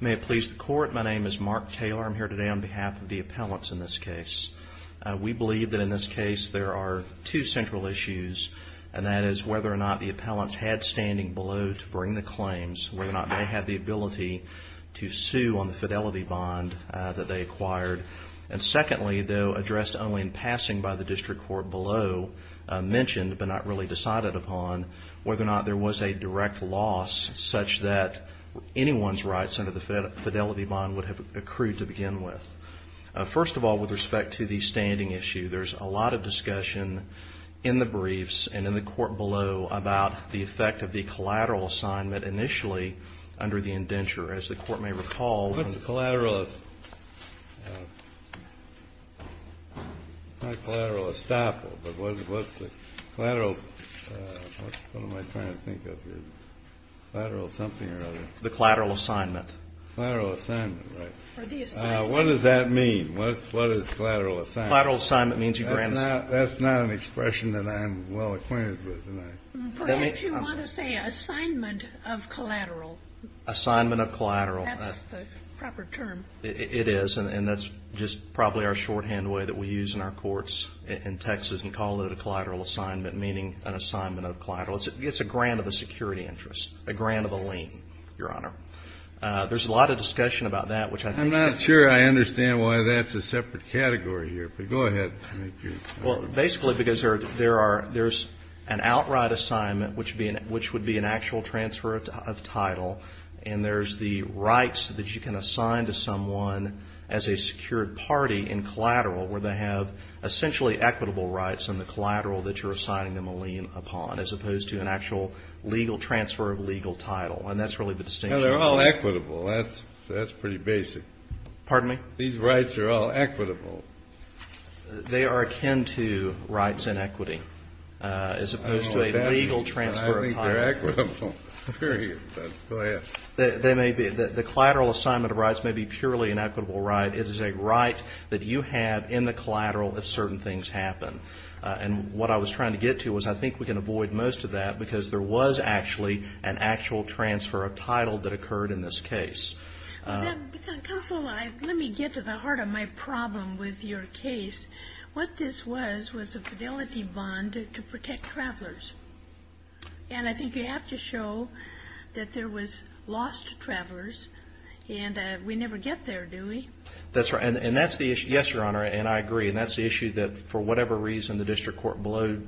May it please the Court, my name is Mark Taylor. I'm here today on behalf of the appellants in this case. We believe that in this case there are two central issues and that is whether or not the appellants had standing below to bring the claims, whether or not they had the ability to sue on the fidelity bond that they acquired. And secondly, though addressed only in passing by the district court below, mentioned but not really decided upon, whether or not there was a direct loss such that anyone's rights under the fidelity bond would have accrued to begin with. First of all, with respect to the standing issue, there's a lot of discussion in the briefs and in the court below about the effect of the collateral assignment initially under the indenture. As the Court may recall, when the collateral assignment was granted, the collateral assignment, what does that mean? What is collateral assignment? Collateral assignment means you grant... That's not an expression that I'm well-acquainted with. If you want to say assignment of collateral. Assignment of collateral. That's the proper term. It is. And that's just probably our shorthand way that we use in our courts in Texas and call it a collateral assignment, meaning an assignment of collateral. It's a grant of a security interest, a grant of a lien, Your Honor. There's a lot of discussion about that, which I think... I'm not sure I understand why that's a separate category here, but go ahead. Well, basically because there are, there's an outright assignment, which would be an actual transfer of title, and there's the rights that you can assign to someone as a secured party in collateral, where they have essentially equitable rights in the collateral that you're assigning them a lien upon, as opposed to an actual legal transfer of legal title. And that's really the distinction. Well, they're all equitable. That's pretty basic. Pardon me? These rights are all equitable. They are akin to rights in equity, as opposed to a legal transfer of title. They're equitable. Go ahead. They may be. The collateral assignment of rights may be purely an equitable right. It is a right that you have in the collateral if certain things happen. And what I was trying to get to was I think we can avoid most of that, because there was actually an actual transfer of title that occurred in this case. Counsel, let me get to the heart of my problem with your case. What this was, was a And I think you have to show that there was loss to travelers, and we never get there, do we? That's right. And that's the issue. Yes, Your Honor, and I agree. And that's the issue that, for whatever reason, the district court below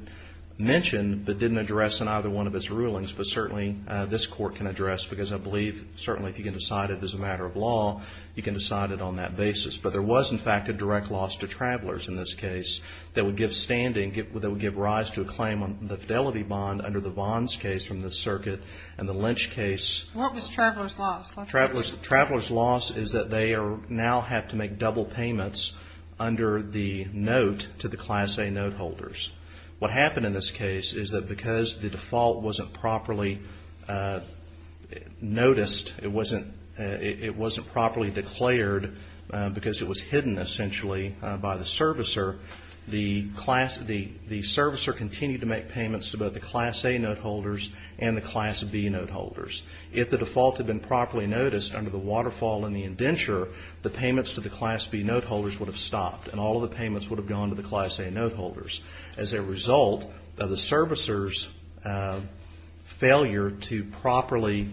mentioned, but didn't address in either one of its rulings, but certainly this court can address, because I believe certainly if you can decide it as a matter of law, you can decide it on that basis. But there was, in fact, a direct loss to travelers in this case that would give rise to a claim on the fidelity bond under the Vons case from the circuit, and the Lynch case. What was travelers' loss? Travelers' loss is that they now have to make double payments under the note to the Class A note holders. What happened in this case is that because the default wasn't properly noticed, it wasn't properly declared, because it was hidden, essentially, by the servicer continued to make payments to both the Class A note holders and the Class B note holders. If the default had been properly noticed under the waterfall and the indenture, the payments to the Class B note holders would have stopped, and all of the payments would have gone to the Class A note holders. As a result of the servicer's failure to properly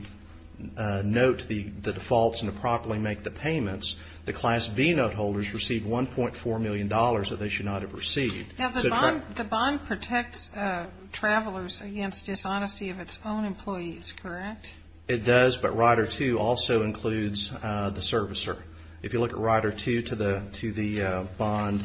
note the defaults and to properly make the payments, the Class B note holders received $1.4 million that they should not have received. Now, the bond protects travelers against dishonesty of its own employees, correct? It does, but Rider 2 also includes the servicer. If you look at Rider 2 to the bond,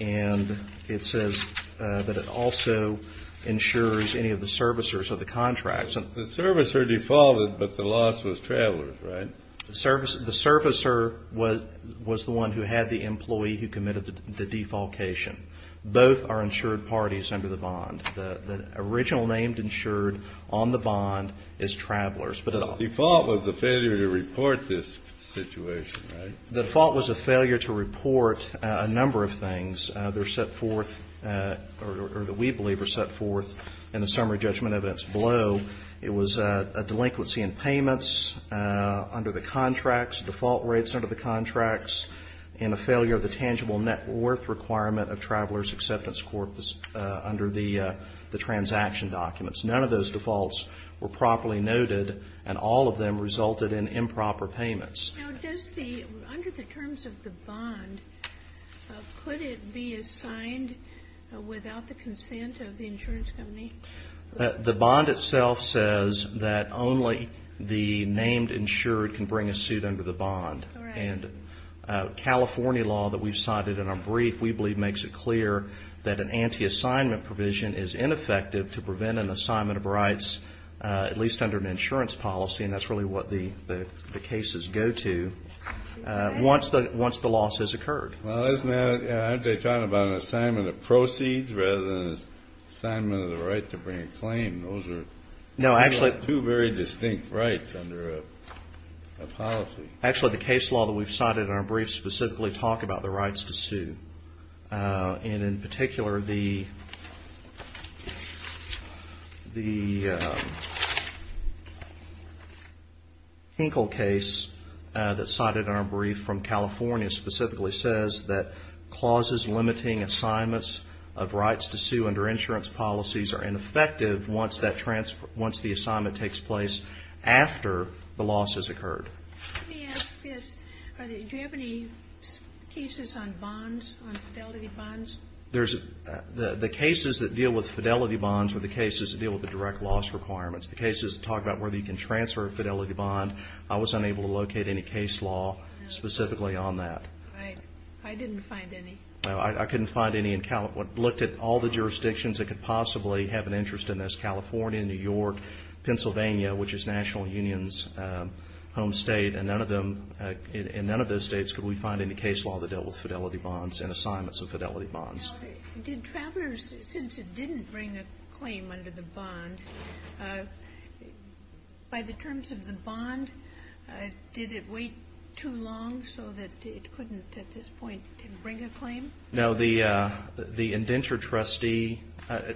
and it says that it also ensures any of the servicers of the contracts. The servicer defaulted, but the loss was travelers, right? The servicer was the one who had the employee who committed the defaultation. Both are insured parties under the bond. The original name insured on the bond is travelers. The default was a failure to report this situation, right? The default was a failure to report a number of things that are set forth, or that we believe are set forth in the summary judgment evidence below. It was a delinquency in payments under the contracts, default rates under the contracts, and a failure of the tangible net worth requirement of travelers' acceptance court under the transaction documents. None of those defaults were properly noted, and all of them resulted in improper payments. Now, does the, under the terms of the bond, could it be assigned without the consent of the insurance company? The bond itself says that only the named insured can bring a suit under the bond, and California law that we've cited in our brief, we believe makes it clear that an anti-assignment provision is ineffective to prevent an assignment of rights, at least under an insurance policy, and that's really what the cases go to, once the loss has occurred. Well, isn't that, aren't they talking about an assignment of proceeds rather than an assignment of the right to bring a claim? Those are two very distinct rights under a policy. Actually the case law that we've cited in our brief specifically talk about the rights to sue, and in particular the Hinkle case that's cited in our brief from California specifically says that clauses limiting assignments of rights to sue under insurance policies are ineffective once that transfer, once the assignment takes place after the loss has occurred. Let me ask this. Do you have any cases on bonds, on fidelity bonds? The cases that deal with fidelity bonds are the cases that deal with the direct loss requirements. The cases that talk about whether you can transfer a fidelity bond, I was unable to find any. I didn't find any. I couldn't find any in Cal, looked at all the jurisdictions that could possibly have an interest in this, California, New York, Pennsylvania, which is National Union's home state, and none of them, in none of those states could we find any case law that dealt with fidelity bonds and assignments of fidelity bonds. Now, did travelers, since it didn't bring a claim under the bond, by the terms of the bond, it wouldn't at this point bring a claim? No, the indentured trustee,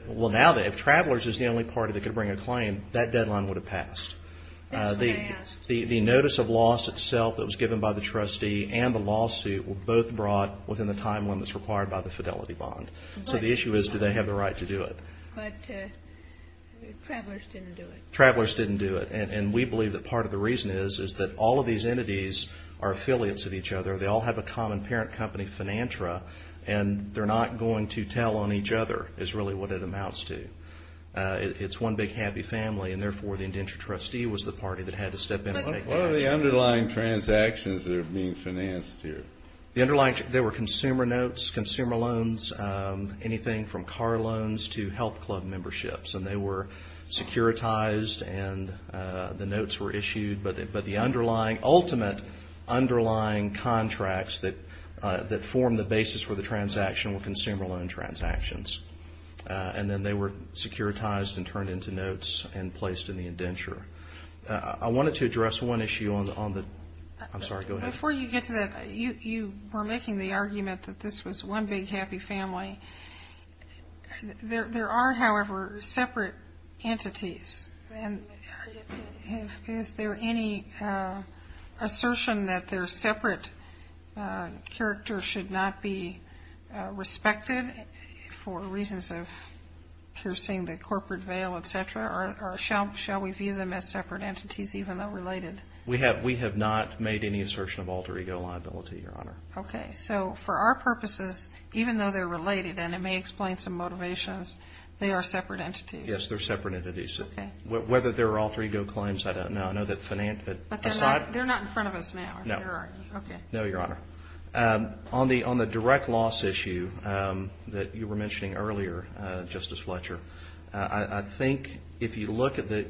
well now if travelers is the only party that could bring a claim, that deadline would have passed. That's what I asked. The notice of loss itself that was given by the trustee and the lawsuit were both brought within the time limits required by the fidelity bond. So the issue is, do they have the right to do it? But travelers didn't do it. Travelers didn't do it, and we believe that part of the reason is, is that all of these are a common parent company, Finantra, and they're not going to tell on each other is really what it amounts to. It's one big happy family, and therefore the indentured trustee was the party that had to step in and take care of it. But what are the underlying transactions that are being financed here? The underlying, there were consumer notes, consumer loans, anything from car loans to health club memberships, and they were securitized and the notes were issued, but the underlying, the ultimate underlying contracts that form the basis for the transaction were consumer loan transactions, and then they were securitized and turned into notes and placed in the indenture. I wanted to address one issue on the, I'm sorry, go ahead. Before you get to that, you were making the argument that this was one big happy family. There are, however, separate entities, and is there any assertion that they're separate characters should not be respected for reasons of piercing the corporate veil, etc., or shall we view them as separate entities even though related? We have not made any assertion of alter ego liability, Your Honor. Okay. So for our purposes, even though they're related, and it may explain some motivations, they are separate entities. Yes, they're separate entities. Whether they're alter ego claims, I don't know. I know that financial, but aside. But they're not in front of us now, are they, or are you? No. Okay. No, Your Honor. On the direct loss issue that you were mentioning earlier, Justice Fletcher, I think if you look at the,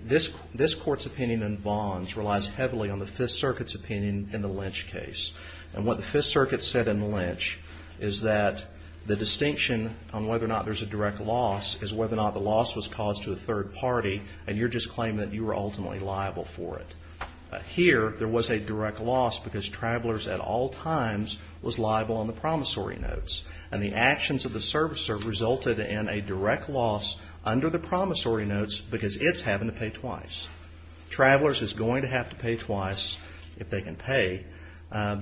this Court's opinion in bonds relies heavily on the Fifth Circuit's opinion in the Lynch case. And what the Fifth Circuit said in Lynch is that the distinction on whether or not there's a direct loss is whether or not the loss was caused to a third party, and you're just claiming that you were ultimately liable for it. Here there was a direct loss because Travelers at all times was liable on the promissory notes, and the actions of the servicer resulted in a direct loss under the promissory notes because it's having to pay twice. Travelers is going to have to pay twice if they can pay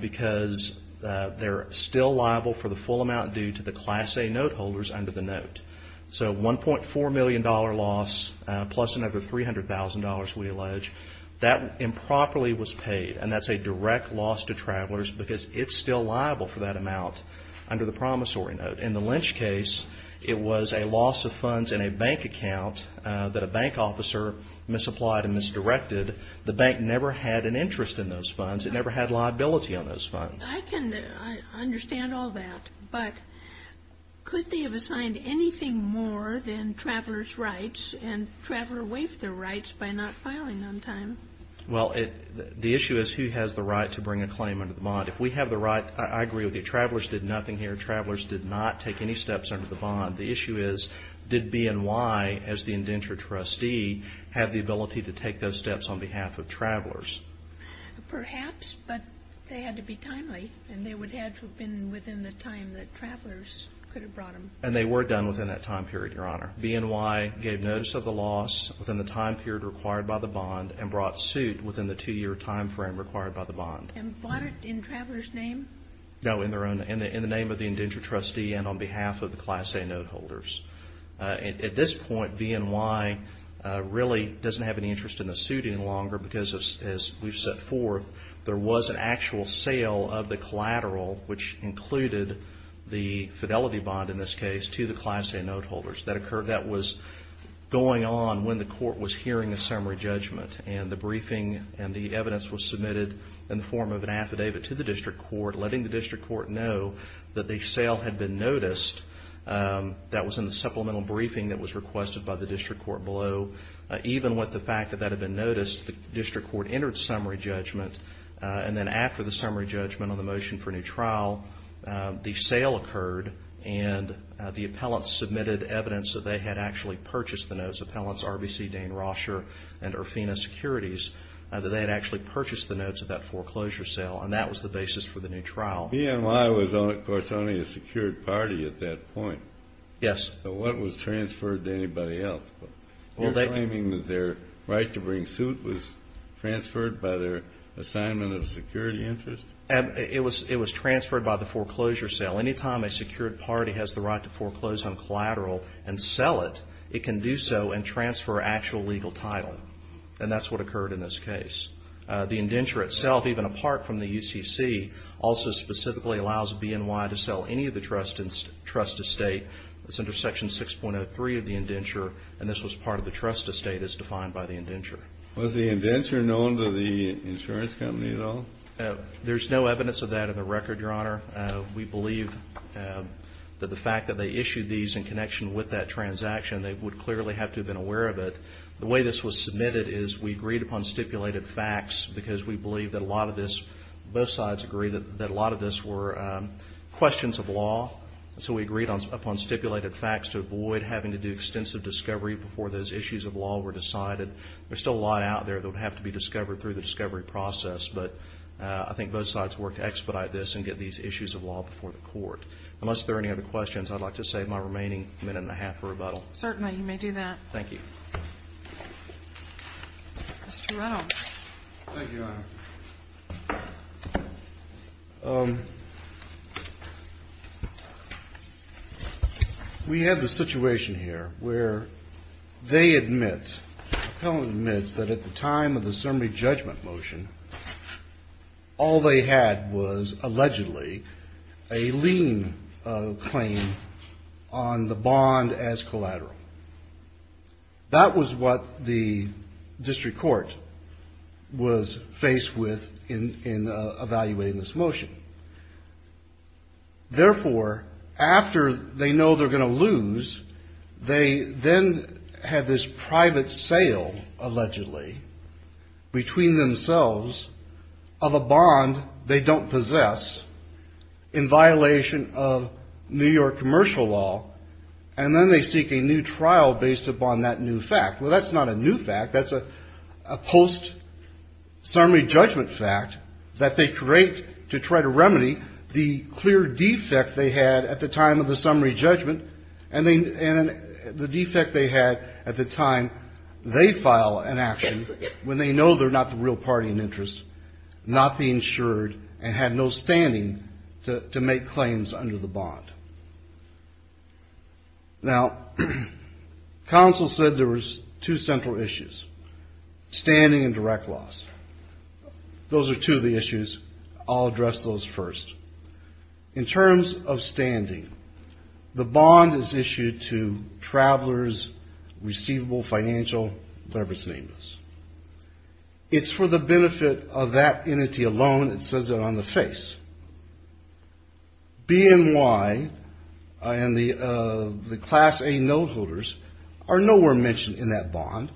because they're still liable for the full amount due to the Class A note holders under the note. So $1.4 million loss plus another $300,000, we allege, that improperly was paid. And that's a direct loss to Travelers because it's still liable for that amount under the promissory note. But in the Lynch case, it was a loss of funds in a bank account that a bank officer misapplied and misdirected. The bank never had an interest in those funds. It never had liability on those funds. I can understand all that, but could they have assigned anything more than Travelers' rights and Traveler waived their rights by not filing on time? Well, the issue is who has the right to bring a claim under the bond. If we have the right, I agree with you. Travelers did nothing here. Travelers did not take any steps under the bond. The issue is did BNY, as the indenture trustee, have the ability to take those steps on behalf of Travelers? Perhaps, but they had to be timely and they would have to have been within the time that Travelers could have brought them. And they were done within that time period, Your Honor. BNY gave notice of the loss within the time period required by the bond and brought suit within the two-year time frame required by the bond. And bought it in Travelers' name? No, in the name of the indenture trustee and on behalf of the Class A note holders. At this point, BNY really doesn't have any interest in the suiting longer because, as we've set forth, there was an actual sale of the collateral, which included the fidelity bond in this case, to the Class A note holders. That was going on when the court was hearing the summary judgment. And the briefing and the evidence was submitted in the form of an affidavit to the district court, letting the district court know that the sale had been noticed. That was in the supplemental briefing that was requested by the district court below. Even with the fact that that had been noticed, the district court entered summary judgment. And then after the summary judgment on the motion for a new trial, the sale occurred and the appellant submitted evidence that they had actually purchased the notes, appellants RBC, Dane Roscher, and Urfina Securities, that they had actually purchased the notes of that foreclosure sale. And that was the basis for the new trial. BNY was, of course, only a secured party at that point. Yes. So what was transferred to anybody else? You're claiming that their right to bring suit was transferred by their assignment of security interest? It was transferred by the foreclosure sale. Anytime a secured party has the right to foreclose on collateral and sell it, it can do so and transfer actual legal title. And that's what occurred in this case. The indenture itself, even apart from the UCC, also specifically allows BNY to sell any of the trust estate. It's under Section 6.03 of the indenture. And this was part of the trust estate as defined by the indenture. Was the indenture known to the insurance company at all? There's no evidence of that in the record, Your Honor. We believe that the fact that they issued these in connection with that transaction, they would clearly have to have been aware of it. The way this was submitted is we agreed upon stipulated facts because we believe that a lot of this, both sides agree that a lot of this were questions of law. So we agreed upon stipulated facts to avoid having to do extensive discovery before those issues of law were decided. There's still a lot out there that would have to be discovered through the discovery process. But I think both sides worked to expedite this and get these issues of law before the court. Unless there are any other questions, I'd like to save my remaining minute and a half for rebuttal. Certainly. All right. You may do that. Thank you. Mr. Reynolds. Thank you, Your Honor. We have the situation here where they admit, the appellant admits that at the time of the That was what the district court was faced with in evaluating this motion. Therefore, after they know they're going to lose, they then have this private sale, allegedly, between themselves of a bond they don't possess in violation of New York commercial law. And then they seek a new trial based upon that new fact. Well, that's not a new fact. That's a post-summary judgment fact that they create to try to remedy the clear defect they had at the time of the summary judgment and the defect they had at the time they file an action when they know they're not the real party in interest, not the insured, and had no standing to make claims under the bond. Now, counsel said there was two central issues, standing and direct loss. Those are two of the issues. I'll address those first. In terms of standing, the bond is issued to travelers, receivable, financial, whatever its name is. It's for the benefit of that entity alone. It says it on the face. BNY and the Class A note holders are nowhere mentioned in that bond.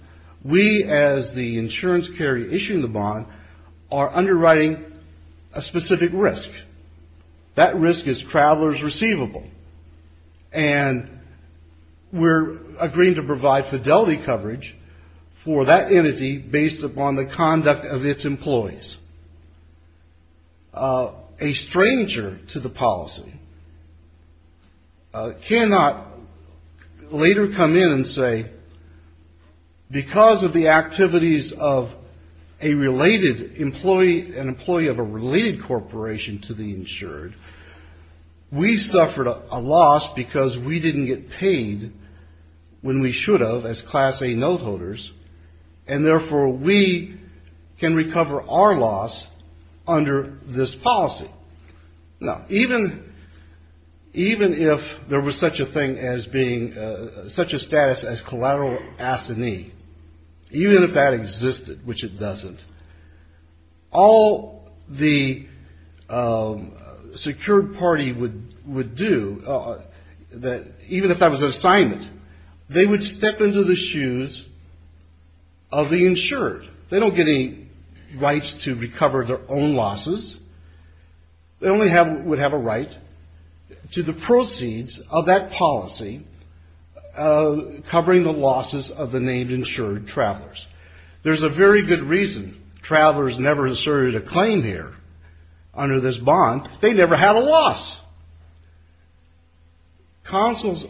We as the insurance carrier issuing the bond are underwriting a specific risk. That risk is travelers receivable. And we're agreeing to provide fidelity coverage for that entity based upon the conduct of its employees. A stranger to the policy cannot later come in and say, because of the activities of a employee of a related corporation to the insured, we suffered a loss because we didn't get paid when we should have as Class A note holders. And therefore, we can recover our loss under this policy. Now, even if there was such a thing as being such a status as collateral assignee, even if that existed, which it doesn't, all the secured party would do, even if that was an assignment, they would step into the shoes of the insured. They don't get any rights to recover their own losses. They only would have a right to the proceeds of that policy covering the losses of the insured travelers. There's a very good reason travelers never asserted a claim here under this bond. They never had a loss. Consul's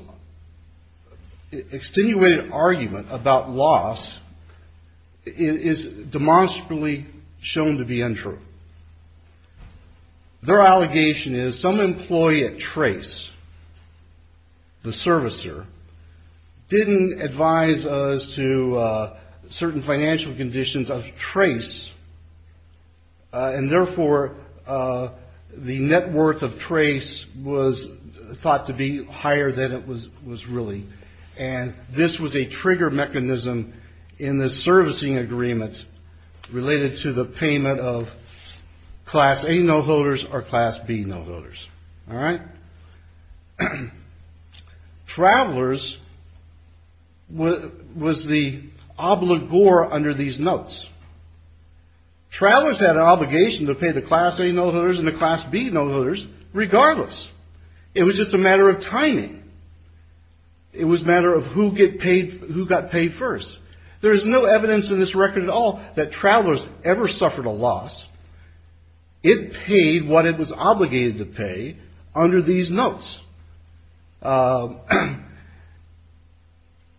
extenuated argument about loss is demonstrably shown to be untrue. Their allegation is some employee at Trace, the servicer, didn't advise us to certain financial conditions of Trace, and therefore, the net worth of Trace was thought to be higher than it was really. And this was a trigger mechanism in the servicing agreement related to the payment of Class A note holders or Class B note holders. All right. Travelers was the obligor under these notes. Travelers had an obligation to pay the Class A note holders and the Class B note holders regardless. It was just a matter of timing. It was a matter of who got paid first. There is no evidence in this record at all that travelers ever suffered a loss. It paid what it was obligated to pay under these notes. And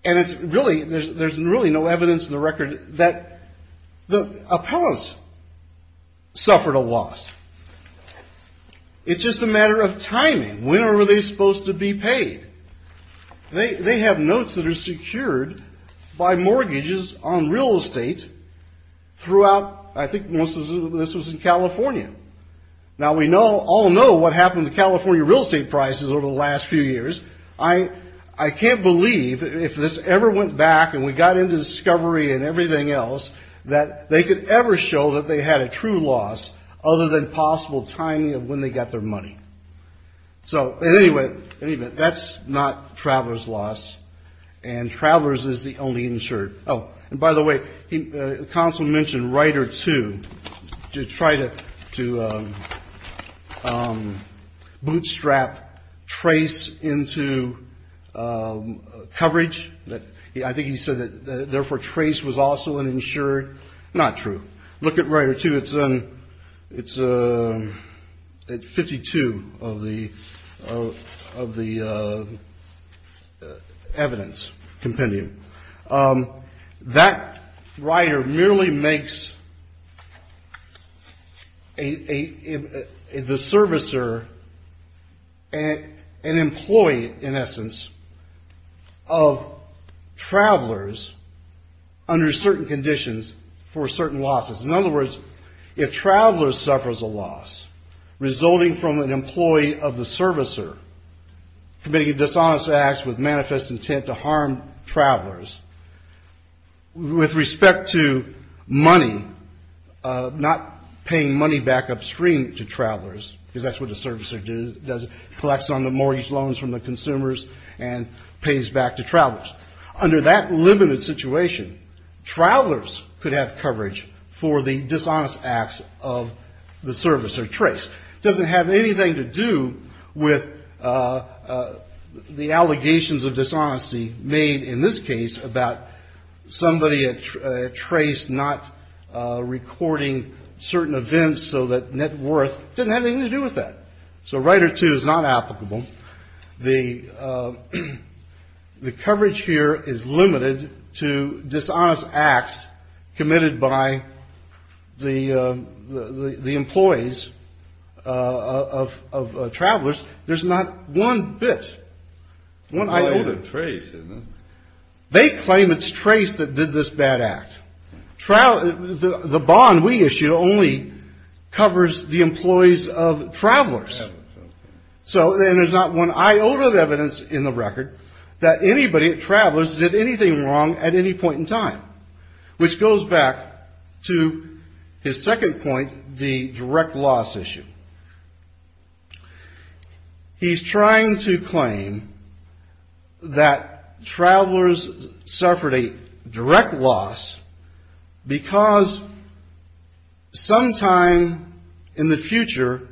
there's really no evidence in the record that the appellants suffered a loss. It's just a matter of timing. When were they supposed to be paid? They have notes that are secured by mortgages on real estate throughout, I think most of this was in California. Now, we all know what happened to California real estate prices over the last few years. I can't believe if this ever went back and we got into discovery and everything else that they could ever show that they had a true loss other than possible timing of when they got their money. So anyway, that's not Travelers' loss and Travelers is the only insured. Oh, and by the way, the counsel mentioned Rider 2 to try to bootstrap Trace into coverage. I think he said that therefore Trace was also an insured. Not true. Look at Rider 2. It's 52 of the evidence compendium. That Rider merely makes the servicer an employee in essence of Travelers under certain conditions for certain losses. In other words, if Travelers suffers a loss resulting from an employee of the servicer committing a dishonest act with manifest intent to harm Travelers with respect to money, not paying money back upstream to Travelers because that's what the servicer does, collects on the mortgage loans from the consumers and pays back to Travelers. Under that limited situation, Travelers could have coverage for the dishonest acts of the servicer. Trace doesn't have anything to do with the allegations of dishonesty made in this case about somebody at Trace not recording certain events so that net worth didn't have anything to do with that. So Rider 2 is not applicable. The coverage here is limited to dishonest acts committed by the employees of Travelers. There's not one bit. I own a Trace. They claim it's Trace that did this bad act. The bond we issue only covers the employees of Travelers. So there's not one iota of evidence in the record that anybody at Travelers did anything wrong at any point in time, which goes back to his second point, the direct loss issue. He's trying to claim that Travelers suffered a direct loss because sometime in the future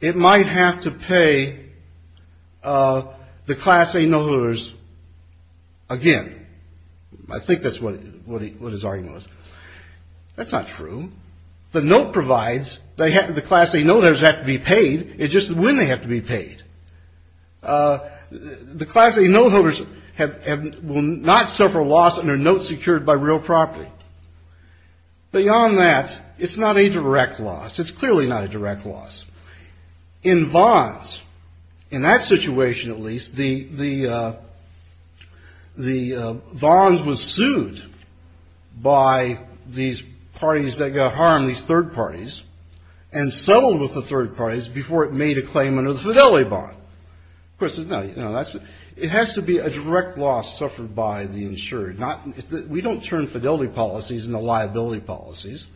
it might have to pay the Class A note holders again. I think that's what his argument was. That's not true. The note provides, the Class A note holders have to be paid. It's just when they have to be paid. The Class A note holders will not suffer loss under notes secured by real property. Beyond that, it's not a direct loss. It's clearly not a direct loss. In Vons, in that situation at least, the Vons was sued by these parties that got harmed, these third parties, and settled with the third parties before it made a claim under the fidelity bond. Of course, it has to be a direct loss suffered by the insured. We don't turn fidelity policies into liability policies.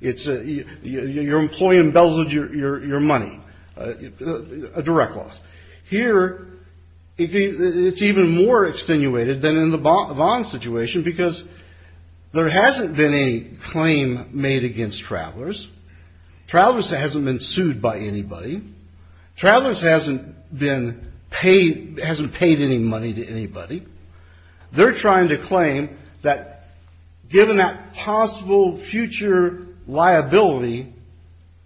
Your employee embezzled your money, a direct loss. Here, it's even more extenuated than in the Vons situation because there hasn't been a claim made against Travelers. Travelers hasn't been sued by anybody. Travelers hasn't paid any money to anybody. They're trying to claim that given that possible future liability,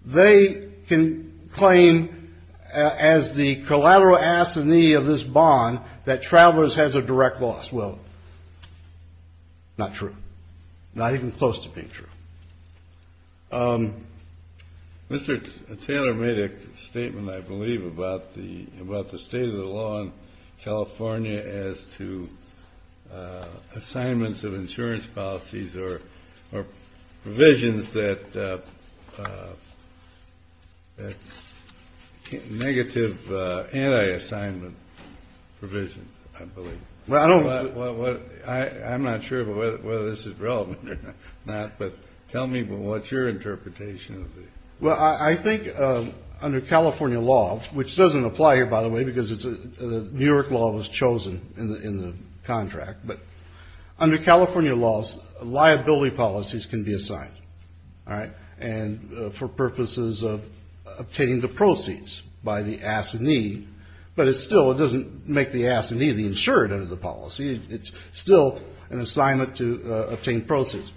they can claim as the collateral assignee of this bond that Travelers has a direct loss. Well, not true. Not even close to being true. Mr. Taylor made a statement, I believe, about the state of the law in California as to assignments of insurance policies or provisions that negative anti-assignment provisions, I believe. Well, I'm not sure whether this is relevant or not, but tell me what's your interpretation of it? Well, I think under California law, which doesn't apply here, by the way, because the New York law was chosen in the contract, but under California laws, liability policies can be assigned, all right, and for purposes of obtaining the proceeds by the assignee, but it still doesn't make the assignee the insured under the policy. It's still an assignment to obtain proceeds.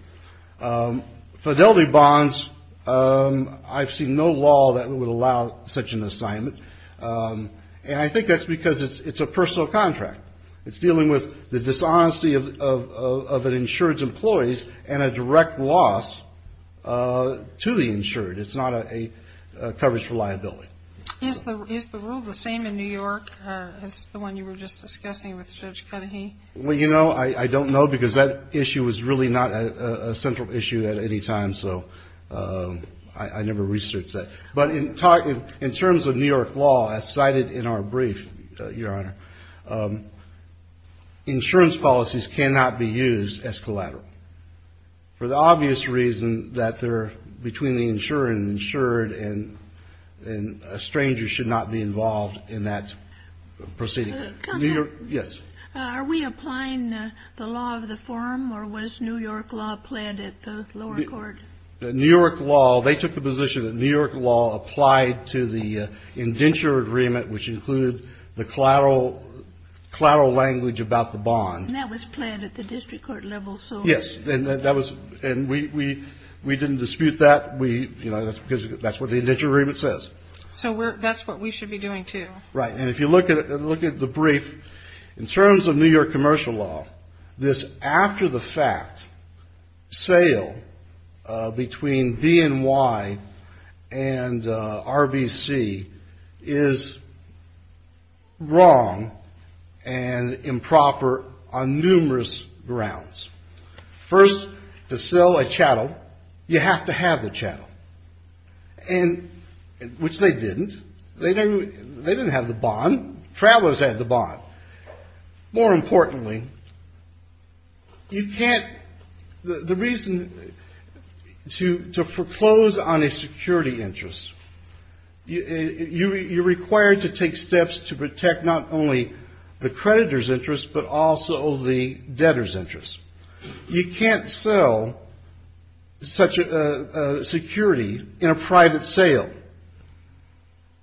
Fidelity bonds, I've seen no law that would allow such an assignment, and I think that's because it's a personal contract. It's dealing with the dishonesty of an insured's employees and a direct loss to the insured. It's not a coverage for liability. Is the rule the same in New York as the one you were just discussing with Judge Cudahy? Well, you know, I don't know because that issue is really not a central issue at any time, so I never researched that, but in terms of New York law, as cited in our brief, Your Honor, insurance policies cannot be used as collateral. For the obvious reason that they're between the insured and a stranger should not be involved in that proceeding. Counselor? Yes. Are we applying the law of the form, or was New York law planned at the lower court? New York law, they took the position that New York law applied to the indenture agreement, which included the collateral language about the bond. And that was planned at the district court level, so? Yes, and that was, and we didn't dispute that. We, you know, that's because that's what the indenture agreement says. So that's what we should be doing, too. Right. And if you look at the brief, in terms of New York commercial law, this after the fact sale between BNY and RBC is wrong and improper on numerous grounds. First, to sell a chattel, you have to have the chattel, and, which they didn't. They didn't have the bond. Travelers had the bond. More importantly, you can't, the reason to foreclose on a security interest, you're required to take steps to protect not only the creditor's You can't sell such a security in a private sale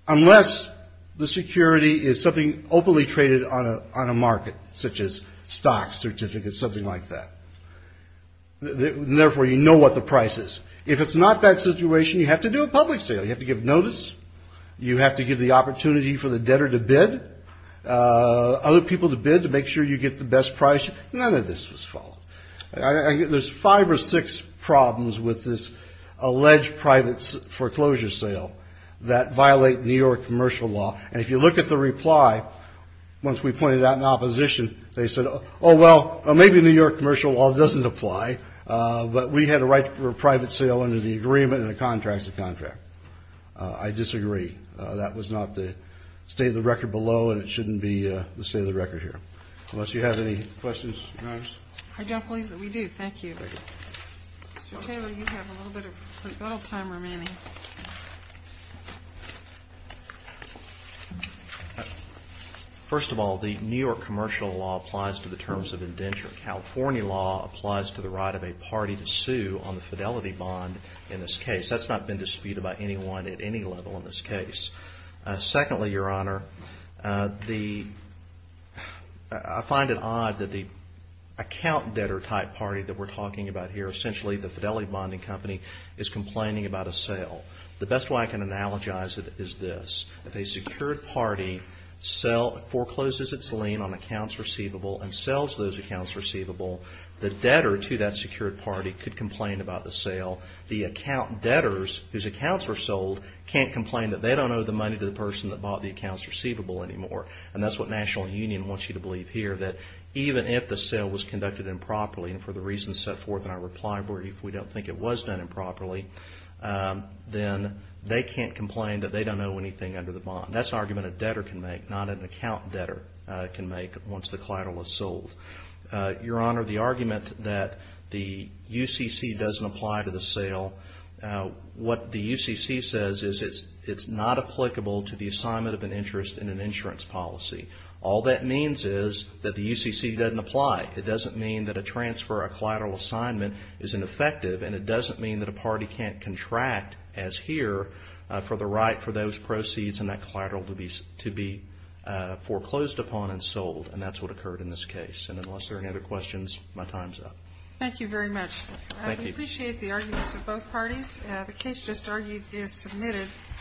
unless the security is something openly traded on a market, such as stocks, certificates, something like that. Therefore, you know what the price is. If it's not that situation, you have to do a public sale. You have to give notice. You have to give the opportunity for the debtor to bid, other people to bid to make sure you get the best price. None of this was followed. There's five or six problems with this alleged private foreclosure sale that violate New York commercial law. And if you look at the reply, once we pointed out in opposition, they said, oh, well, maybe New York commercial law doesn't apply. But we had a right for a private sale under the agreement and the contracts of contract. I disagree. That was not the state of the record below, and it shouldn't be the state of the record here. Unless you have any questions. I don't believe that we do. Thank you. Taylor, you have a little bit of time remaining. First of all, the New York commercial law applies to the terms of indenture. California law applies to the right of a party to sue on the fidelity bond. In this case, that's not been disputed by anyone at any level in this case. Secondly, Your Honor, I find it odd that the account debtor type party that we're talking about here, essentially the fidelity bonding company, is complaining about a sale. The best way I can analogize it is this. If a secured party forecloses its lien on accounts receivable and sells those accounts receivable, the debtor to that secured party could complain about the sale. The account debtors, whose accounts were sold, can't complain that they don't owe the money to the person that bought the accounts receivable anymore. And that's what National Union wants you to believe here, that even if the sale was conducted improperly, and for the reasons set forth in our reply board, if we don't think it was done improperly, then they can't complain that they don't owe anything under the bond. That's an argument a debtor can make, not an account debtor can make, once the collateral is sold. Your Honor, the argument that the UCC doesn't apply to the sale, what the UCC says is it's not applicable to the assignment of an interest in an insurance policy. All that means is that the UCC doesn't apply. It doesn't mean that a transfer, a collateral assignment, isn't effective, and it doesn't mean that a party can't contract, as here, for the right for those proceeds and that collateral to be foreclosed upon and sold, and that's what occurred in this case. And unless there are any other questions, my time's up. Thank you very much. Thank you. We appreciate the arguments of both parties. The case just argued is submitted.